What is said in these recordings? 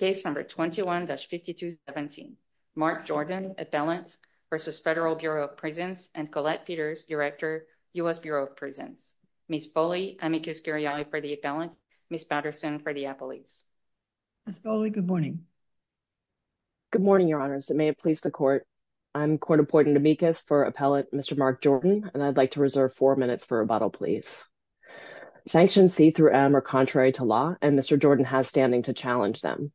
21-5217 Mark Jordan, Appellant v. Federal Bureau of Prisons and Colette Peters, Director, U.S. Bureau of Prisons. Ms. Foley, amicus curiae for the appellant. Ms. Patterson for the appellate. Ms. Foley, good morning. Good morning, Your Honors, and may it please the court. I'm court-appointed amicus for appellant Mr. Mark Jordan, and I'd like to reserve four minutes for rebuttal, please. Sanctions C through M are contrary to law, and Mr. Jordan has standing to challenge them.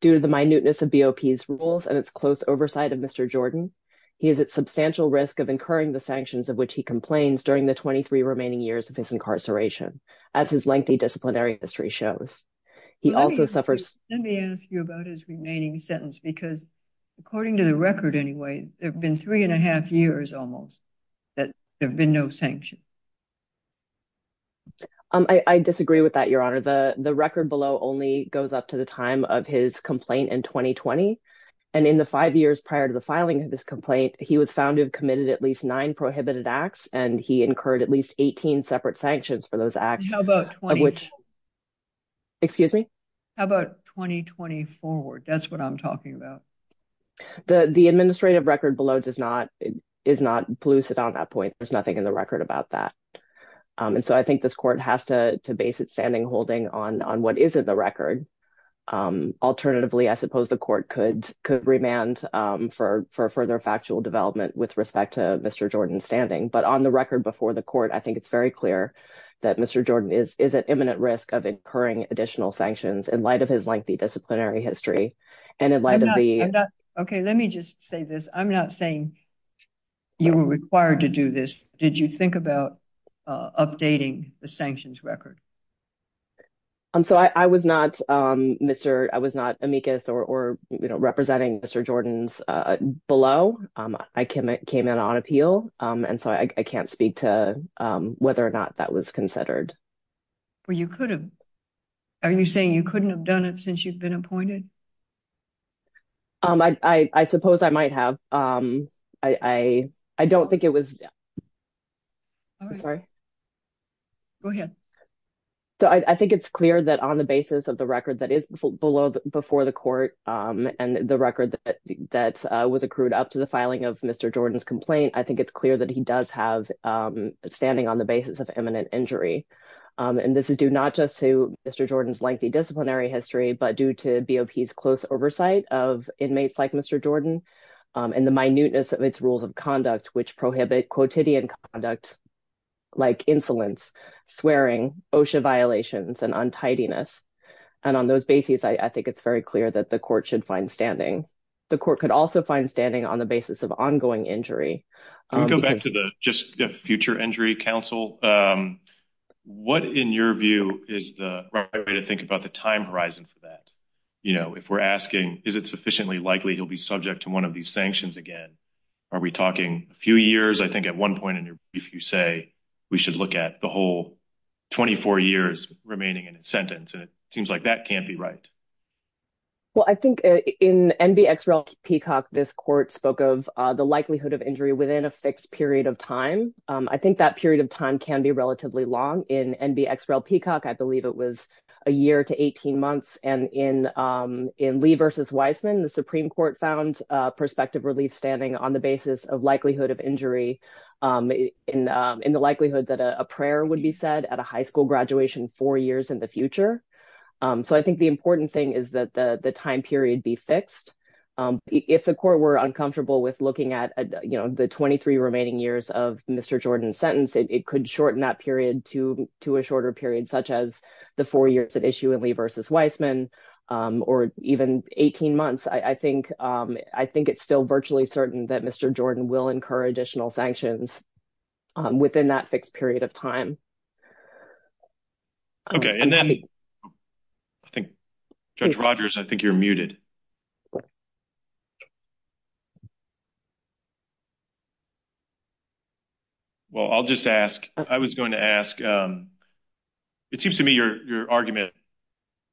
Due to the minuteness of BOP's rules and its close oversight of Mr. Jordan, he is at substantial risk of incurring the sanctions of which he complains during the 23 remaining years of his incarceration, as his lengthy disciplinary history shows. He also suffers... Let me ask you about his remaining sentence, because according to the record anyway, there have been three and a half years almost that there have been no sanctions. I disagree with that, Your Honor. The record below only goes up to the time of his complaint in 2020, and in the five years prior to the filing of this complaint, he was found to have committed at least nine prohibited acts, and he incurred at least 18 separate sanctions for those acts. How about 20... Excuse me? How about 2020 forward? That's what I'm talking about. The administrative record below does not... is not lucid on that point. There's nothing in the record that says that, and so I think this court has to base its standing holding on what is in the record. Alternatively, I suppose the court could remand for further factual development with respect to Mr. Jordan's standing, but on the record before the court, I think it's very clear that Mr. Jordan is at imminent risk of incurring additional sanctions in light of his lengthy disciplinary history, and in light of the... I'm not... Okay, let me just say this. I'm not saying you were required to do this. Did you think about updating the sanctions record? So, I was not, Mr.... I was not amicus or, you know, representing Mr. Jordan's below. I came in on appeal, and so I can't speak to whether or not that was considered. Well, you could have. Are you saying you couldn't have done it since you've been appointed? I suppose I might have. I don't think it was... I'm sorry. Go ahead. So, I think it's clear that on the basis of the record that is below... before the court and the record that was accrued up to the filing of Mr. Jordan's complaint, I think it's clear that he does have standing on the basis of imminent injury, and this is due not just to Mr. Jordan's close oversight of inmates like Mr. Jordan, and the minuteness of its rules of conduct, which prohibit quotidian conduct like insolence, swearing, OSHA violations, and untidiness. And on those bases, I think it's very clear that the court should find standing. The court could also find standing on the basis of ongoing injury. We'll go back to the future injury counsel. What, in your view, is the right way to think about the time horizon for that? If we're asking, is it sufficiently likely he'll be subject to one of these sanctions again? Are we talking a few years? I think at one point in your brief, you say we should look at the whole 24 years remaining in a sentence, and it seems like that can't be right. Well, I think in NBXREL-Peacock, this court spoke of the likelihood of injury within a fixed period of time. I think that period of time can be relatively long. In NBXREL-Peacock, I believe it was a year to 18 months. And in Lee v. Wiseman, the Supreme Court found prospective relief standing on the basis of likelihood of injury in the likelihood that a prayer would be said at a high school graduation four years in the future. So I think the important thing is that the time period be fixed. If the court were uncomfortable with looking at the 23 remaining years of Mr. Jordan's sentence, it could shorten that period to a shorter period, such as the four years at issue in Lee v. Wiseman, or even 18 months. I think it's still virtually certain that Mr. Jordan will incur additional sanctions within that fixed period of time. Okay. Judge Rogers, I think you're muted. Well, I'll just ask, I was going to ask, it seems to me your argument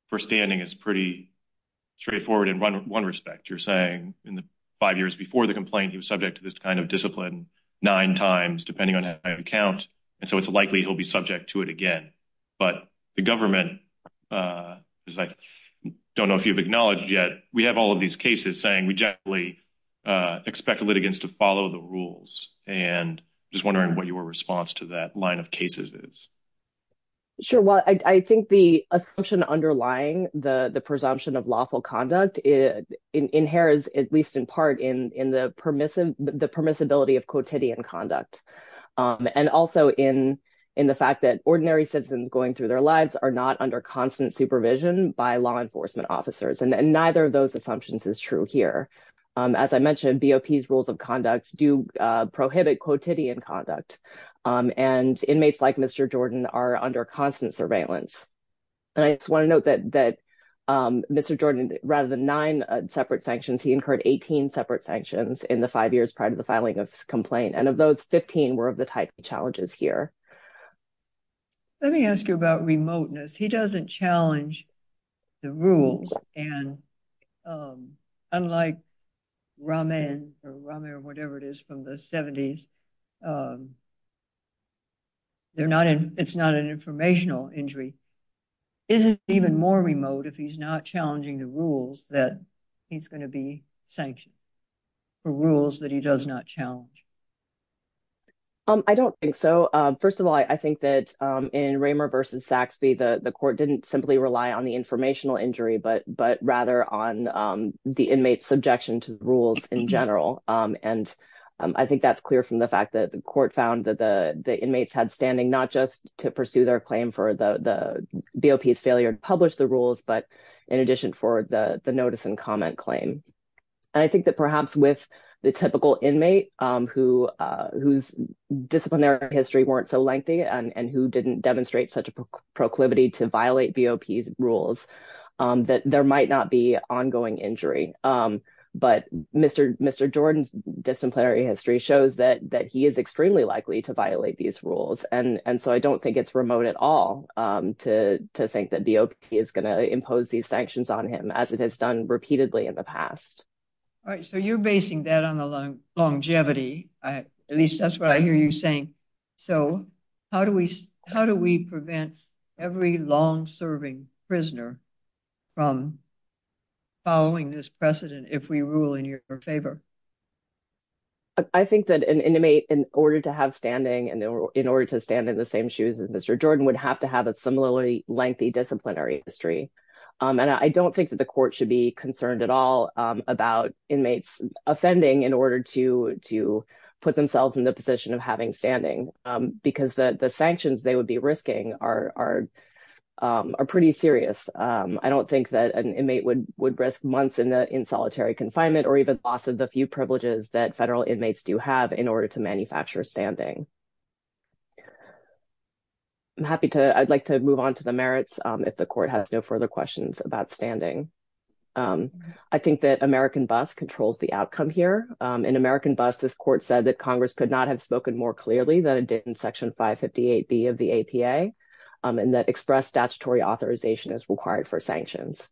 for standing is pretty straightforward in one respect. You're saying in the five years before the complaint, he was subject to this kind of discipline nine times, depending on how you count. And so it's likely he'll be subject to it again. But the government, as I don't know if you've acknowledged yet, we have all of these cases saying we generally expect litigants to follow the rules. And just wondering what your response to that line of cases is. Sure. Well, I think the assumption underlying the presumption of lawful conduct inheres, at least in part, in the permissibility of quotidian conduct. And also in the fact that ordinary citizens going through their lives are not under constant supervision by law enforcement officers. And neither of those assumptions is true here. As I mentioned, BOP's rules of conduct do prohibit quotidian conduct. And inmates like Mr. Jordan are under constant surveillance. And I just want to note that Mr. Jordan, rather than nine separate sanctions, he incurred 18 separate sanctions in the five years prior to the filing of his complaint. And of those, 15 were of the type of challenges here. Let me ask you about remoteness. He doesn't challenge the rules. And unlike Rahman or whatever it is from the 70s, it's not an informational injury. Isn't it even more remote if he's not challenging the rules that he's going to be sanctioned for rules that he does not challenge? I don't think so. First of all, I think that in Raymer versus Saxby, the court didn't simply rely on the informational injury, but rather on the inmate's subjection to the rules in general. And I think that's clear from the fact that the court found that the inmates had standing, not just to pursue their claim for the BOP's failure to publish the rules, but in addition for the notice and comment claim. And I think that perhaps with the typical inmate, who's disciplinary history weren't so lengthy and who didn't demonstrate such a proclivity to violate BOP's rules, that there might not be ongoing injury. But Mr. Jordan's disciplinary history shows that he is extremely likely to violate these rules. And so I don't think it's remote at all to think that BOP is going to impose these sanctions on him as it has done repeatedly in the past. All right. So you're basing that on the longevity. At least that's what I hear you saying. So how do we prevent every long-serving prisoner from following this precedent if we rule in your favor? I think that an inmate in order to have standing and in order to stand in the same shoes as Mr. Jordan would have to have a similarly lengthy disciplinary history. And I don't think that the court should be concerned at all about inmates offending in order to put themselves in the position of having standing. Because the sanctions they would be risking are pretty serious. I don't think that an inmate would risk months in solitary confinement or even loss of the few privileges that federal inmates do have in order to manufacture standing. I'm happy to, I'd like to move on to the merits if the court has no further questions about standing. I think that American BUS controls the outcome here. In American BUS, this court said that Congress could not have spoken more clearly than it did in Section 558B of the APA, and that express statutory authorization is required for sanctions.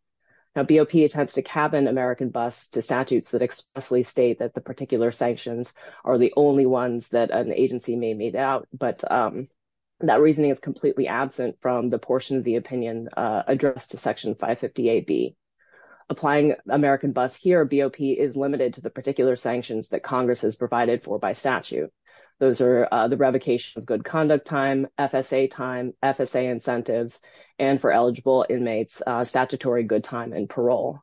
Now BOP attempts to cabin American BUS to statutes that expressly state that the particular sanctions are the only ones that an agency may meet out, but that reasoning is completely absent from the portion of the opinion addressed to Section 558B. Applying American BUS here, BOP is limited to the particular sanctions that Congress has provided for by statute. Those are the revocation of good conduct time, FSA time, FSA incentives, and for eligible inmates, statutory good time and parole.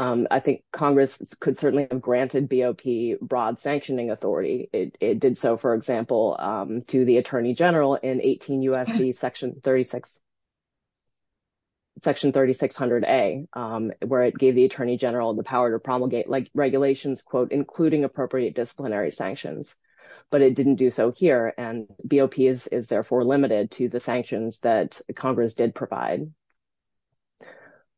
I think Congress could certainly have granted BOP broad sanctioning authority. It did so, for example, to the Attorney General in 18 U.S.C. Section 3600A, where it gave the Attorney General the power to promulgate regulations, quote, including appropriate disciplinary sanctions, but it didn't do so here, and BOP is therefore limited to the sanctions that Congress did provide.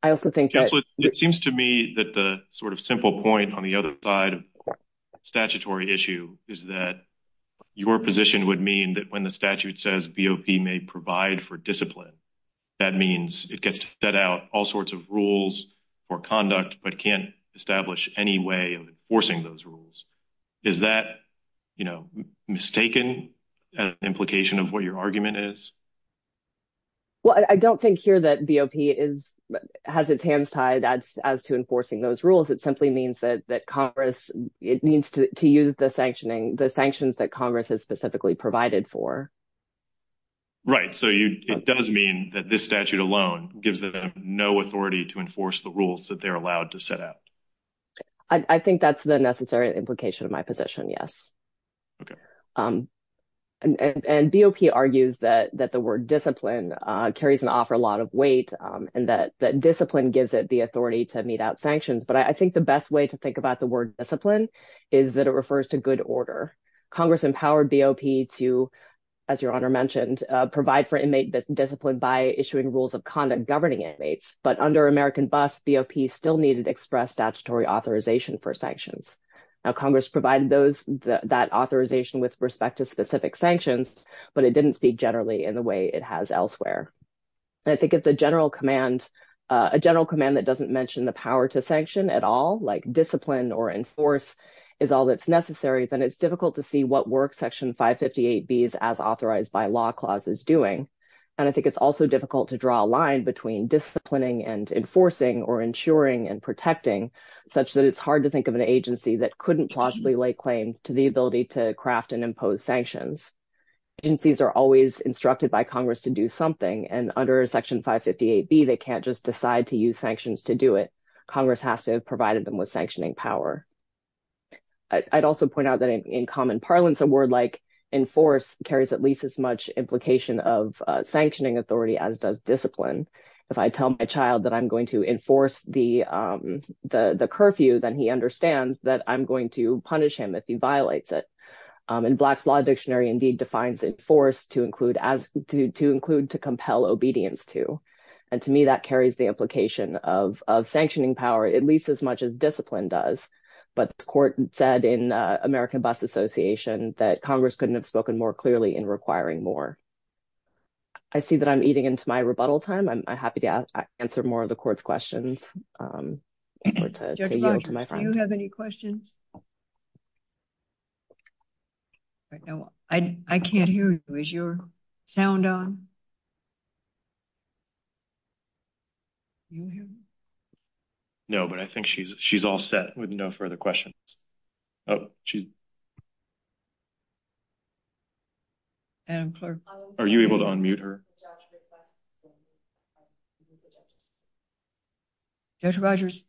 I also think that... Counselor, it seems to me that the sort of simple point on the other side of the statutory issue is that your position would mean that when the statute says BOP may provide for discipline, that means it gets to set out all sorts of rules for conduct, but can't establish any way of enforcing those rules. Is that, you know, mistaken as an implication of what your argument is? Well, I don't think here that BOP has its hands tied as to enforcing those rules. It simply means that Congress, it means to use the sanctions that Congress has specifically provided for. Right, so it does mean that this statute alone gives them no authority to enforce the rules that they're allowed to set out. I think that's the necessary implication of my position, yes. Okay. And BOP argues that the word discipline carries an offer a lot of weight, and that discipline gives it the authority to mete out sanctions, but I think the best way to think about the word discipline is that it refers to good order. Congress empowered BOP to, as your Honor mentioned, provide for inmate discipline by issuing rules of conduct governing inmates, but under American Bus, BOP still needed express statutory authorization for sanctions. Now, Congress provided that authorization with respect to specific sanctions, but it didn't speak generally in the way it has elsewhere. I think if the general command, a general command that doesn't mention the power to sanction at all, like discipline or enforce, is all that's necessary, then it's difficult to see what work Section 558B's as authorized by law clause is doing. And I think it's also difficult to draw a line between disciplining and enforcing or ensuring and protecting, such that it's hard to think of an agency that couldn't plausibly lay claim to the ability to craft and impose sanctions. Agencies are always instructed by Congress to do something, and under Section 558B, they can't just decide to use sanctions to do it. Congress has to have provided them with sanctioning power. I'd also point out that in common parlance, a word like enforce carries at least as much implication of the curfew than he understands that I'm going to punish him if he violates it. And Black's Law Dictionary indeed defines enforce to include to compel obedience to. And to me, that carries the implication of sanctioning power, at least as much as discipline does. But the court said in American Bus Association that Congress couldn't have spoken more clearly in requiring more. I see that I'm eating into my rebuttal time. I'm happy to answer more of the court's questions. I can't hear you. Is your sound on? No, but I think she's all set with no further questions. Oh, she's... Are you able to unmute her? Judge Rogers,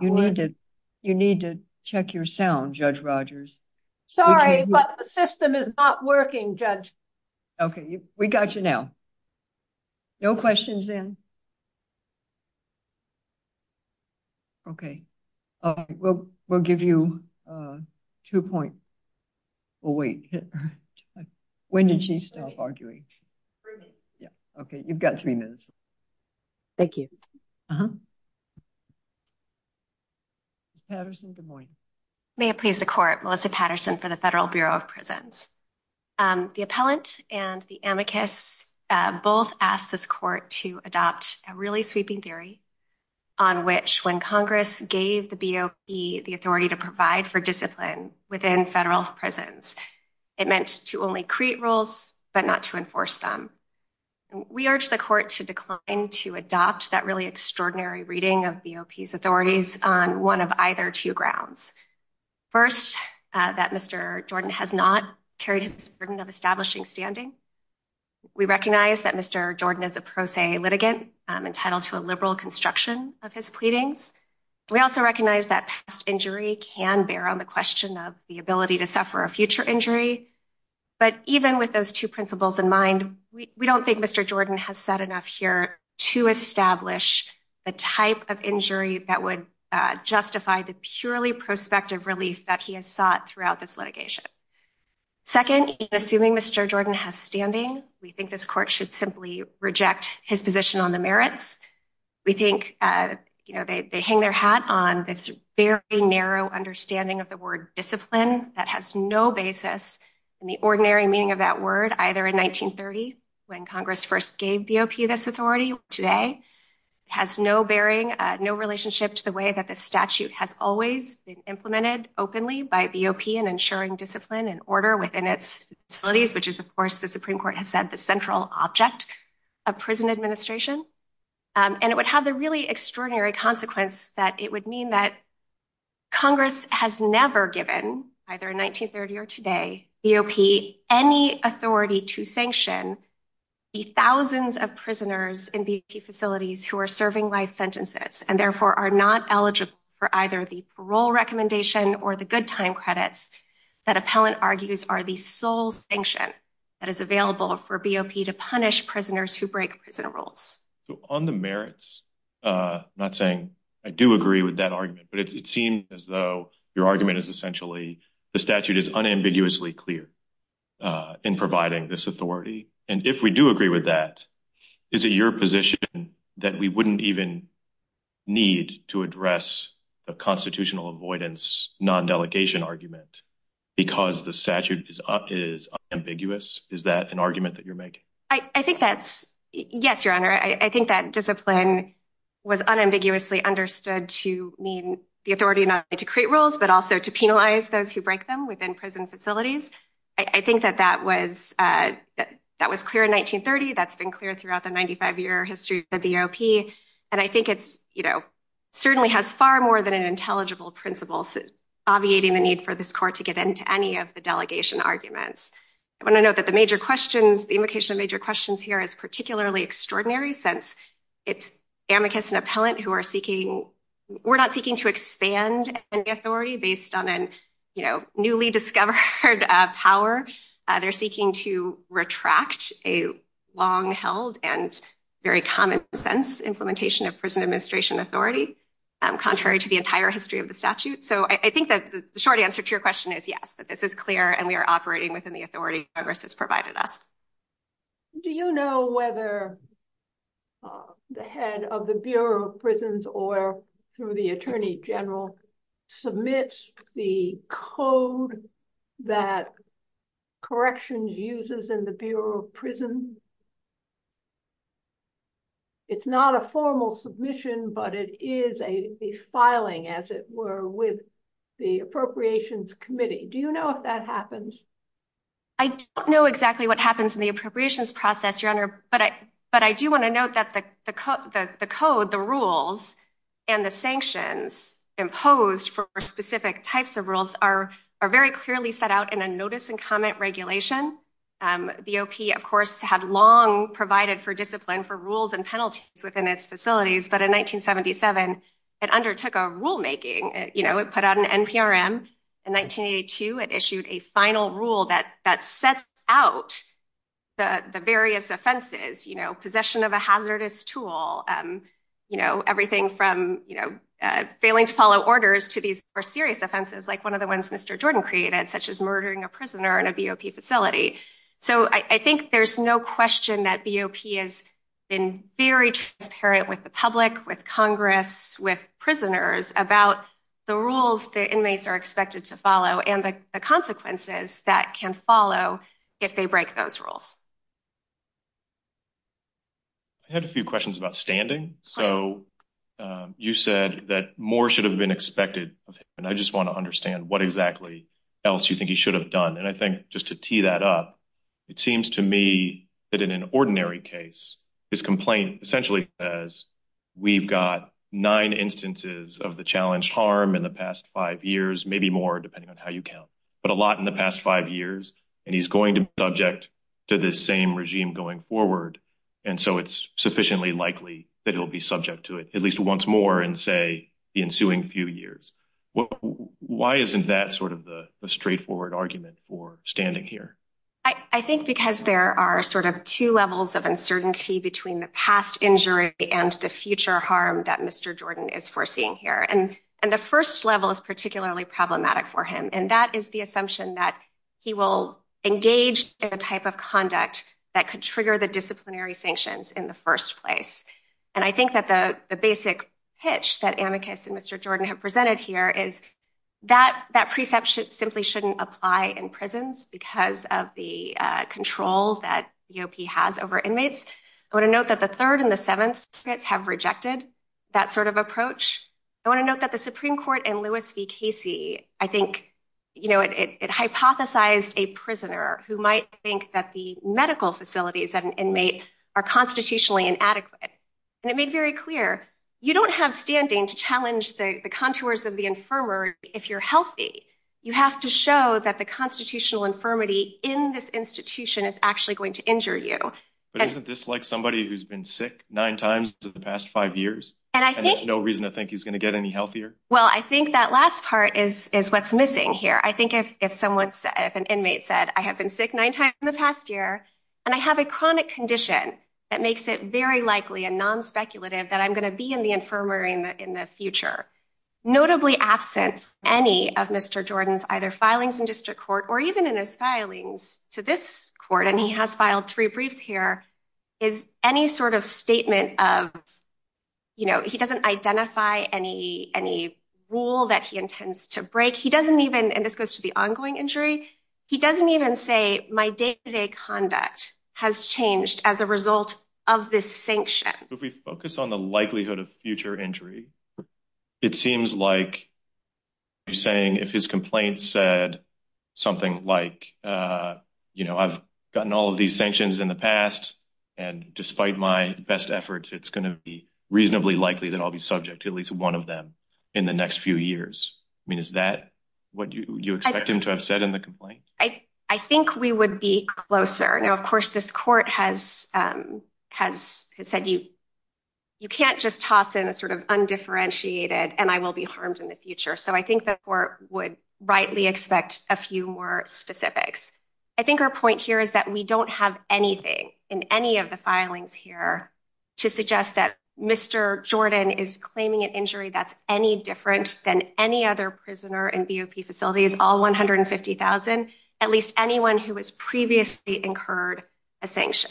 you need to check your sound, Judge Rogers. Sorry, but the system is not working, Judge. Okay, we got you now. No questions then. Okay, we'll give you two points. Oh, wait. When did she stop arguing? Yeah, okay. You've got three minutes. Thank you. Ms. Patterson, good morning. May it please the court, Melissa Patterson for the Federal Bureau of Prisons. The appellant and the amicus both asked this court to adopt a really sweeping theory on which when Congress gave the BOP the authority to provide for discipline within federal prisons, it meant to only create rules, but not to enforce them. We urge the court to decline to adopt that really extraordinary reading of BOP's authorities on one of either two grounds. First, that Mr. Jordan has not carried his burden of establishing standing. We recognize that Mr. Jordan is a pro se litigant entitled to a liberal construction of his pleadings. We also recognize that past injury can bear on the question of the ability to suffer a future injury. But even with those two principles in mind, we don't think Mr. Jordan has said enough here to establish the type of injury that would justify the purely prospective relief that he has sought throughout this litigation. Second, assuming Mr. Jordan has standing, we think this court should simply reject his position on the merits. We think they hang their hat on this very narrow understanding of the word discipline that has no basis in the ordinary meaning of that word, either in 1930, when Congress first gave BOP this authority, or today. It has no bearing, no relationship to the way that the statute has always been implemented openly by BOP in ensuring discipline and order within its facilities, which is, of course, the Supreme Court has said the central object of prison administration. And it would have the really extraordinary consequence that it would mean that either in 1930 or today, BOP, any authority to sanction the thousands of prisoners in BOP facilities who are serving life sentences and therefore are not eligible for either the parole recommendation or the good time credits that appellant argues are the sole sanction that is available for BOP to punish prisoners who break prison rules. So on the merits, I'm not saying I do agree with that argument, but it seems as though your argument is essentially the statute is unambiguously clear in providing this authority. And if we do agree with that, is it your position that we wouldn't even need to address the constitutional avoidance non-delegation argument because the statute is ambiguous? Is that an argument that you're making? I think that's, yes, your honor. I think that discipline was unambiguously understood to mean the authority not only to create rules, but also to penalize those who break them within prison facilities. I think that that was clear in 1930. That's been clear throughout the 95-year history of the BOP. And I think it's, you know, certainly has far more than an intelligible principle obviating the need for this court to get into any of the delegation arguments. I want to note that the major questions, the invocation of major questions here is particularly extraordinary since it's amicus and appellant who are seeking, we're not seeking to expand any authority based on a newly discovered power. They're seeking to retract a long-held and very common sense implementation of prison administration authority contrary to the entire history of the statute. So I think that the short answer to your question is yes, that this is clear and we are operating within the authority Congress has provided us. Do you know whether the head of the Bureau of Prisons or through the attorney general submits the code that corrections uses in the Bureau of Prisons? It's not a formal submission, but it is a filing as it were with the Appropriations Committee. Do you know if that happens? I don't know exactly what happens in the appropriations process, Your Honor, but I do want to note that the code, the rules, and the sanctions imposed for specific types of rules are very clearly set out in a notice and comment regulation. The BOP, of course, had long provided for discipline for rules and penalties within its facilities, but in 1977, it undertook a rulemaking. It put out an NPRM. In 1982, it issued a final rule that sets out the various offenses, possession of a hazardous tool, everything from failing to follow orders to these more serious offenses like one of the ones Mr. Jordan created, such as murdering a prisoner in a BOP facility. So I think there's no question that BOP has been very transparent with the public, with Congress, with prisoners about the rules the inmates are expected to follow and the consequences that can follow if they break those rules. I had a few questions about standing. So you said that more should have been expected of him, and I just want to understand what exactly else you think he should have done. And I think just to tee that up, it seems to me that in an ordinary case, his complaint essentially says we've got nine instances of the challenged harm in the past five years, maybe more depending on how you count, but a lot in the past five years, and he's going to be subject to this same regime going forward, and so it's sufficiently likely that he'll be subject to it at least once more in, say, the ensuing few years. Why isn't that sort of the straightforward argument for standing here? I think because there are sort of two levels of uncertainty between the past injury and the future harm that Mr. Jordan is foreseeing here, and the first level is particularly problematic for him, and that is the assumption that he will engage in a type of conduct that could trigger the have presented here is that that preception simply shouldn't apply in prisons because of the control that EOP has over inmates. I want to note that the third and the seventh states have rejected that sort of approach. I want to note that the Supreme Court and Louis v. Casey, I think, you know, it hypothesized a prisoner who might think that the medical facilities of an inmate are constitutionally inadequate, and it made very clear you don't have standing to challenge the contours of the infirmary if you're healthy. You have to show that the constitutional infirmity in this institution is actually going to injure you. But isn't this like somebody who's been sick nine times in the past five years, and there's no reason to think he's going to get any healthier? Well, I think that last part is what's missing here. I think if an inmate said, I have been sick nine times in the past year, and I have a chronic condition that makes it likely and non-speculative that I'm going to be in the infirmary in the future. Notably absent any of Mr. Jordan's either filings in district court or even in his filings to this court, and he has filed three briefs here, is any sort of statement of, you know, he doesn't identify any rule that he intends to break. He doesn't even, and this goes to the ongoing injury, he doesn't even say my day-to-day conduct has changed as a result of this sanction. If we focus on the likelihood of future injury, it seems like you're saying if his complaint said something like, you know, I've gotten all of these sanctions in the past, and despite my best efforts, it's going to be reasonably likely that I'll be subject to at least one of them in the next few years. I mean, is that what you expect him to have said in the complaint? I think we would be closer. Now, of course, this court has said you can't just toss in a sort of undifferentiated, and I will be harmed in the future. So I think the court would rightly expect a few more specifics. I think our point here is that we don't have anything in any of the filings here to suggest that Mr. Jordan is unlawful. At least anyone who has previously incurred a sanction.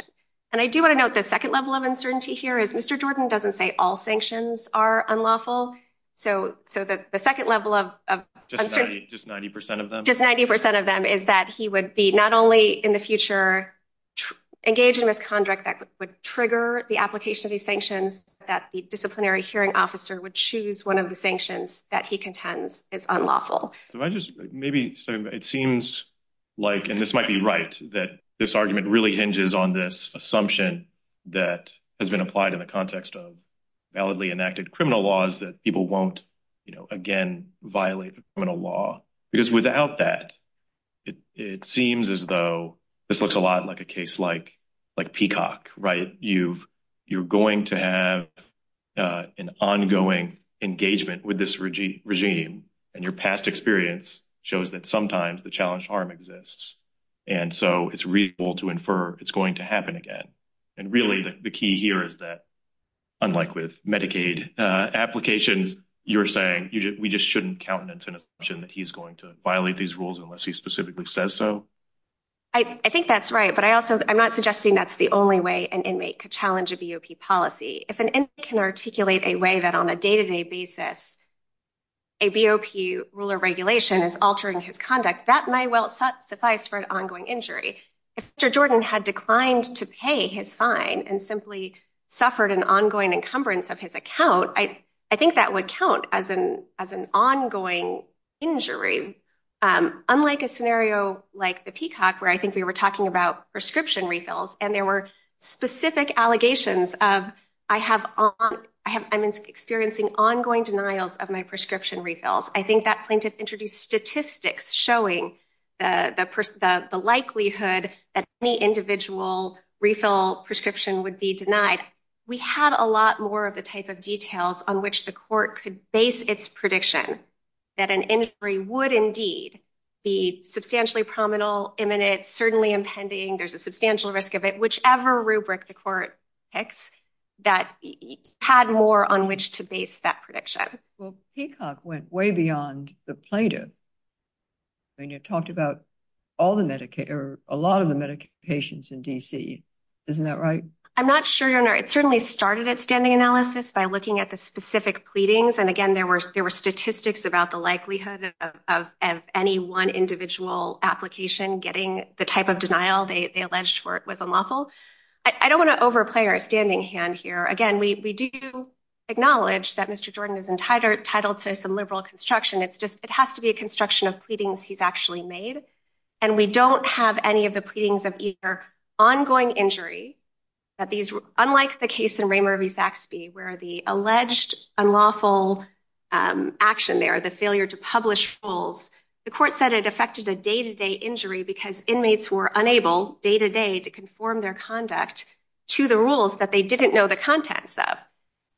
And I do want to note the second level of uncertainty here is Mr. Jordan doesn't say all sanctions are unlawful. So the second level of uncertainty, just 90% of them, is that he would be not only in the future engaged in misconduct that would trigger the application of these sanctions, that the disciplinary hearing officer would choose one of the sanctions that he contends is unlawful. Maybe it seems like, and this might be right, that this argument really hinges on this assumption that has been applied in the context of validly enacted criminal laws that people won't, you know, again violate a criminal law. Because without that, it seems as though this looks a lot like a case like Peacock, right? You're going to have an ongoing engagement with this regime, and your past experience shows that sometimes the challenged harm exists. And so it's reasonable to infer it's going to happen again. And really the key here is that, unlike with Medicaid applications, you're saying we just shouldn't countenance an assumption that he's going to violate these rules unless he specifically says so. I think that's right, but I also, I'm not suggesting that's the only way an inmate could challenge a BOP policy. If an inmate can articulate a way that on a day-to-day basis, a BOP rule or regulation is altering his conduct, that may well suffice for an ongoing injury. If Mr. Jordan had declined to pay his fine and simply suffered an ongoing encumbrance of his account, I think that would count as an ongoing injury. Unlike a scenario like the Peacock, where I think we were talking about I have, I'm experiencing ongoing denials of my prescription refills. I think that plaintiff introduced statistics showing the likelihood that any individual refill prescription would be denied. We had a lot more of the type of details on which the court could base its prediction that an injury would indeed be substantially prominent, imminent, certainly impending, there's a substantial risk of it, whichever rubric the court picks, that had more on which to base that prediction. Well, Peacock went way beyond the plaintiff. I mean, you talked about all the Medicaid or a lot of the Medicaid patients in DC. Isn't that right? I'm not sure, Your Honor. It certainly started at standing analysis by looking at the specific pleadings. And again, there were statistics about the likelihood of any one individual application getting the type of denial they alleged was unlawful. I don't want to overplay our standing hand here. Again, we do acknowledge that Mr. Jordan is entitled to some liberal construction. It's just, it has to be a construction of pleadings he's actually made. And we don't have any of the pleadings of either ongoing injury that these, unlike the case in Raymond V Saxby, where the alleged unlawful action there, the failure to publish fulls, the court said it injury because inmates were unable day-to-day to conform their conduct to the rules that they didn't know the contents of.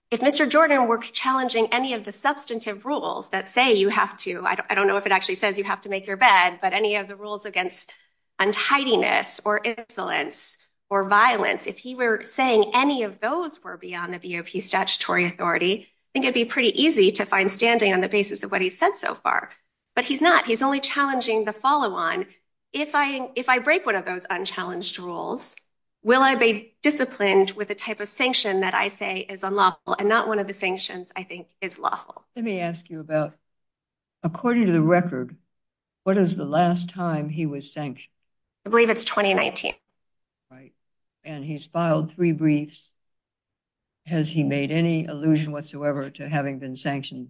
If Mr. Jordan were challenging any of the substantive rules that say you have to, I don't know if it actually says you have to make your bed, but any of the rules against untidiness or insolence or violence, if he were saying any of those were beyond the BOP statutory authority, I think it'd be pretty easy to find standing on the basis of what he's said so far. But he's not. He's only challenging the follow-on. If I break one of those unchallenged rules, will I be disciplined with the type of sanction that I say is unlawful and not one of the sanctions I think is lawful? Let me ask you about, according to the record, what is the last time he was sanctioned? I believe it's 2019. Right. And he's filed three briefs. Has he made any sanctions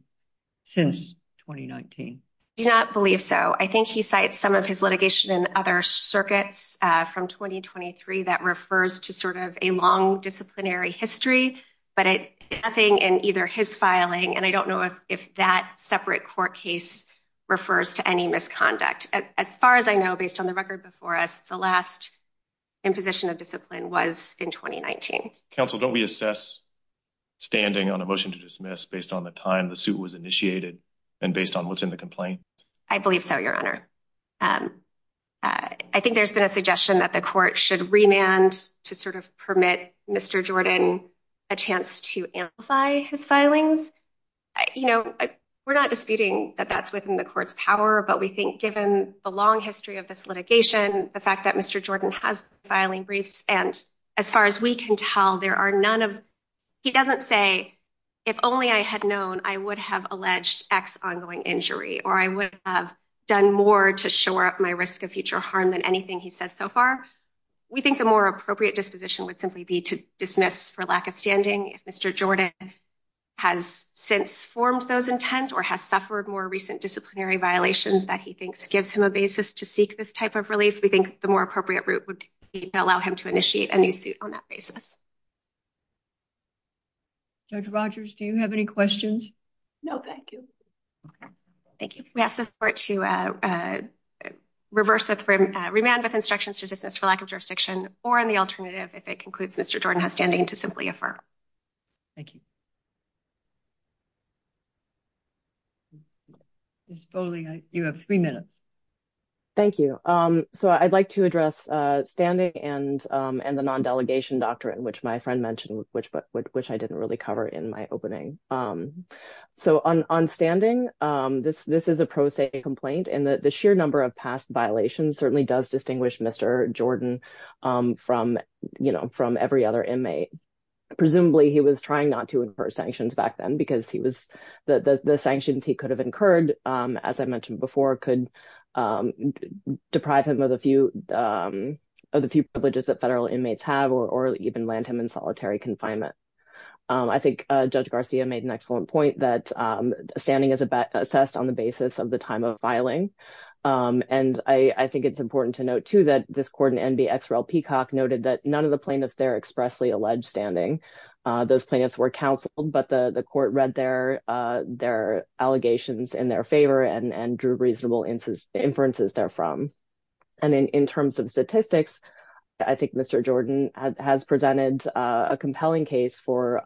since 2019? I do not believe so. I think he cites some of his litigation in other circuits from 2023 that refers to sort of a long disciplinary history, but nothing in either his filing, and I don't know if that separate court case refers to any misconduct. As far as I know, based on the record before us, the last imposition of discipline was in 2019. Counsel, don't we assess standing on a motion to dismiss based on the time the suit was initiated and based on what's in the complaint? I believe so, Your Honor. I think there's been a suggestion that the court should remand to sort of permit Mr. Jordan a chance to amplify his filings. You know, we're not disputing that that's within the court's power, but we think given the long history of this litigation, the fact that Mr. Jordan has been filing briefs, and as far as we can tell, there are none of... He doesn't say, if only I had known, I would have alleged X ongoing injury or I would have done more to shore up my risk of future harm than anything he's said so far. We think the more appropriate disposition would simply be to dismiss for lack of standing. If Mr. Jordan has since formed those intent or has suffered more recent disciplinary violations that he thinks gives him a basis to seek this type of relief, we think the more on that basis. Dr. Rogers, do you have any questions? No, thank you. Okay, thank you. We ask this court to remand with instructions to dismiss for lack of jurisdiction or in the alternative, if it concludes Mr. Jordan has standing, to simply affirm. Thank you. Ms. Foley, you have three minutes. Thank you. So I'd like to address standing and the non-delegation doctrine, which my friend mentioned, which I didn't really cover in my opening. So on standing, this is a pro se complaint and the sheer number of past violations certainly does distinguish Mr. Jordan from every other inmate. Presumably he was trying not to infer sanctions back then because the sanctions he could have incurred, as I mentioned before, could deprive him of the few privileges that federal inmates have or even land him in solitary confinement. I think Judge Garcia made an excellent point that standing is assessed on the basis of the time of filing. And I think it's important to note too that this court in NBXRL Peacock noted that none of the plaintiffs there expressly alleged standing. Those plaintiffs were counseled, but the court read their allegations in their favor and drew reasonable inferences therefrom. And then in terms of statistics, I think Mr. Jordan has presented a compelling case for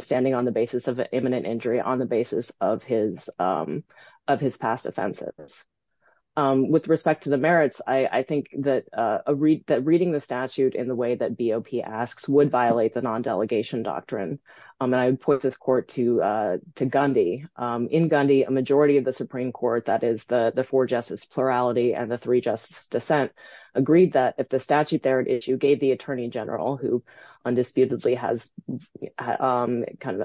standing on the basis of an imminent injury on the basis of his past offenses. With respect to the merits, I think that reading the statute in the way that BOP asks would violate the non-delegation doctrine. And I would put this court to Gundy. In Gundy, a majority of the Supreme Court, that is the four-justice plurality and the three-justice dissent, agreed that if the statute there at issue gave the Attorney General, who undisputedly has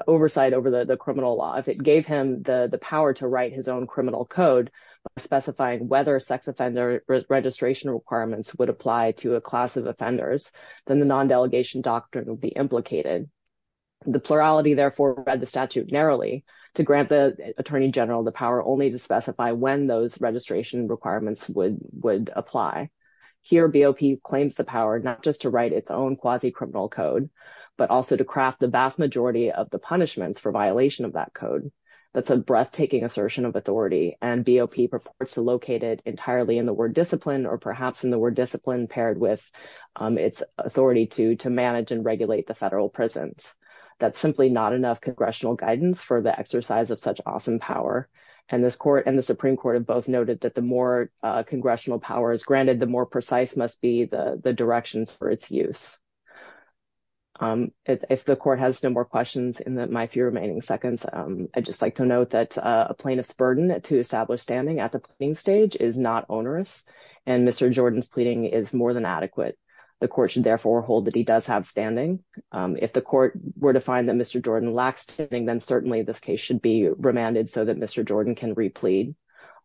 oversight over the criminal law, if it gave him the power to write his own criminal code specifying whether sex offender registration requirements would apply to a class of offenders, then the non-delegation doctrine would be implicated. The plurality therefore read the statute narrowly to grant the Attorney General the power only to specify when those registration requirements would apply. Here, BOP claims the power not just to write its own quasi-criminal code, but also to craft the vast majority of the punishments for violation of that code. That's a breathtaking assertion of authority, and BOP purports to locate it entirely in the discipline paired with its authority to manage and regulate the federal prisons. That's simply not enough congressional guidance for the exercise of such awesome power, and this court and the Supreme Court have both noted that the more congressional power is granted, the more precise must be the directions for its use. If the court has no more questions in my few remaining seconds, I'd just like to note that a plaintiff's burden to establish standing at the and Mr. Jordan's pleading is more than adequate. The court should therefore hold that he does have standing. If the court were to find that Mr. Jordan lacks standing, then certainly this case should be remanded so that Mr. Jordan can replead.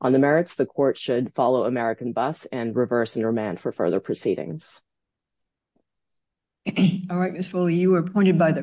On the merits, the court should follow American bus and reverse and remand for further proceedings. All right, Ms. Foley, you were appointed by the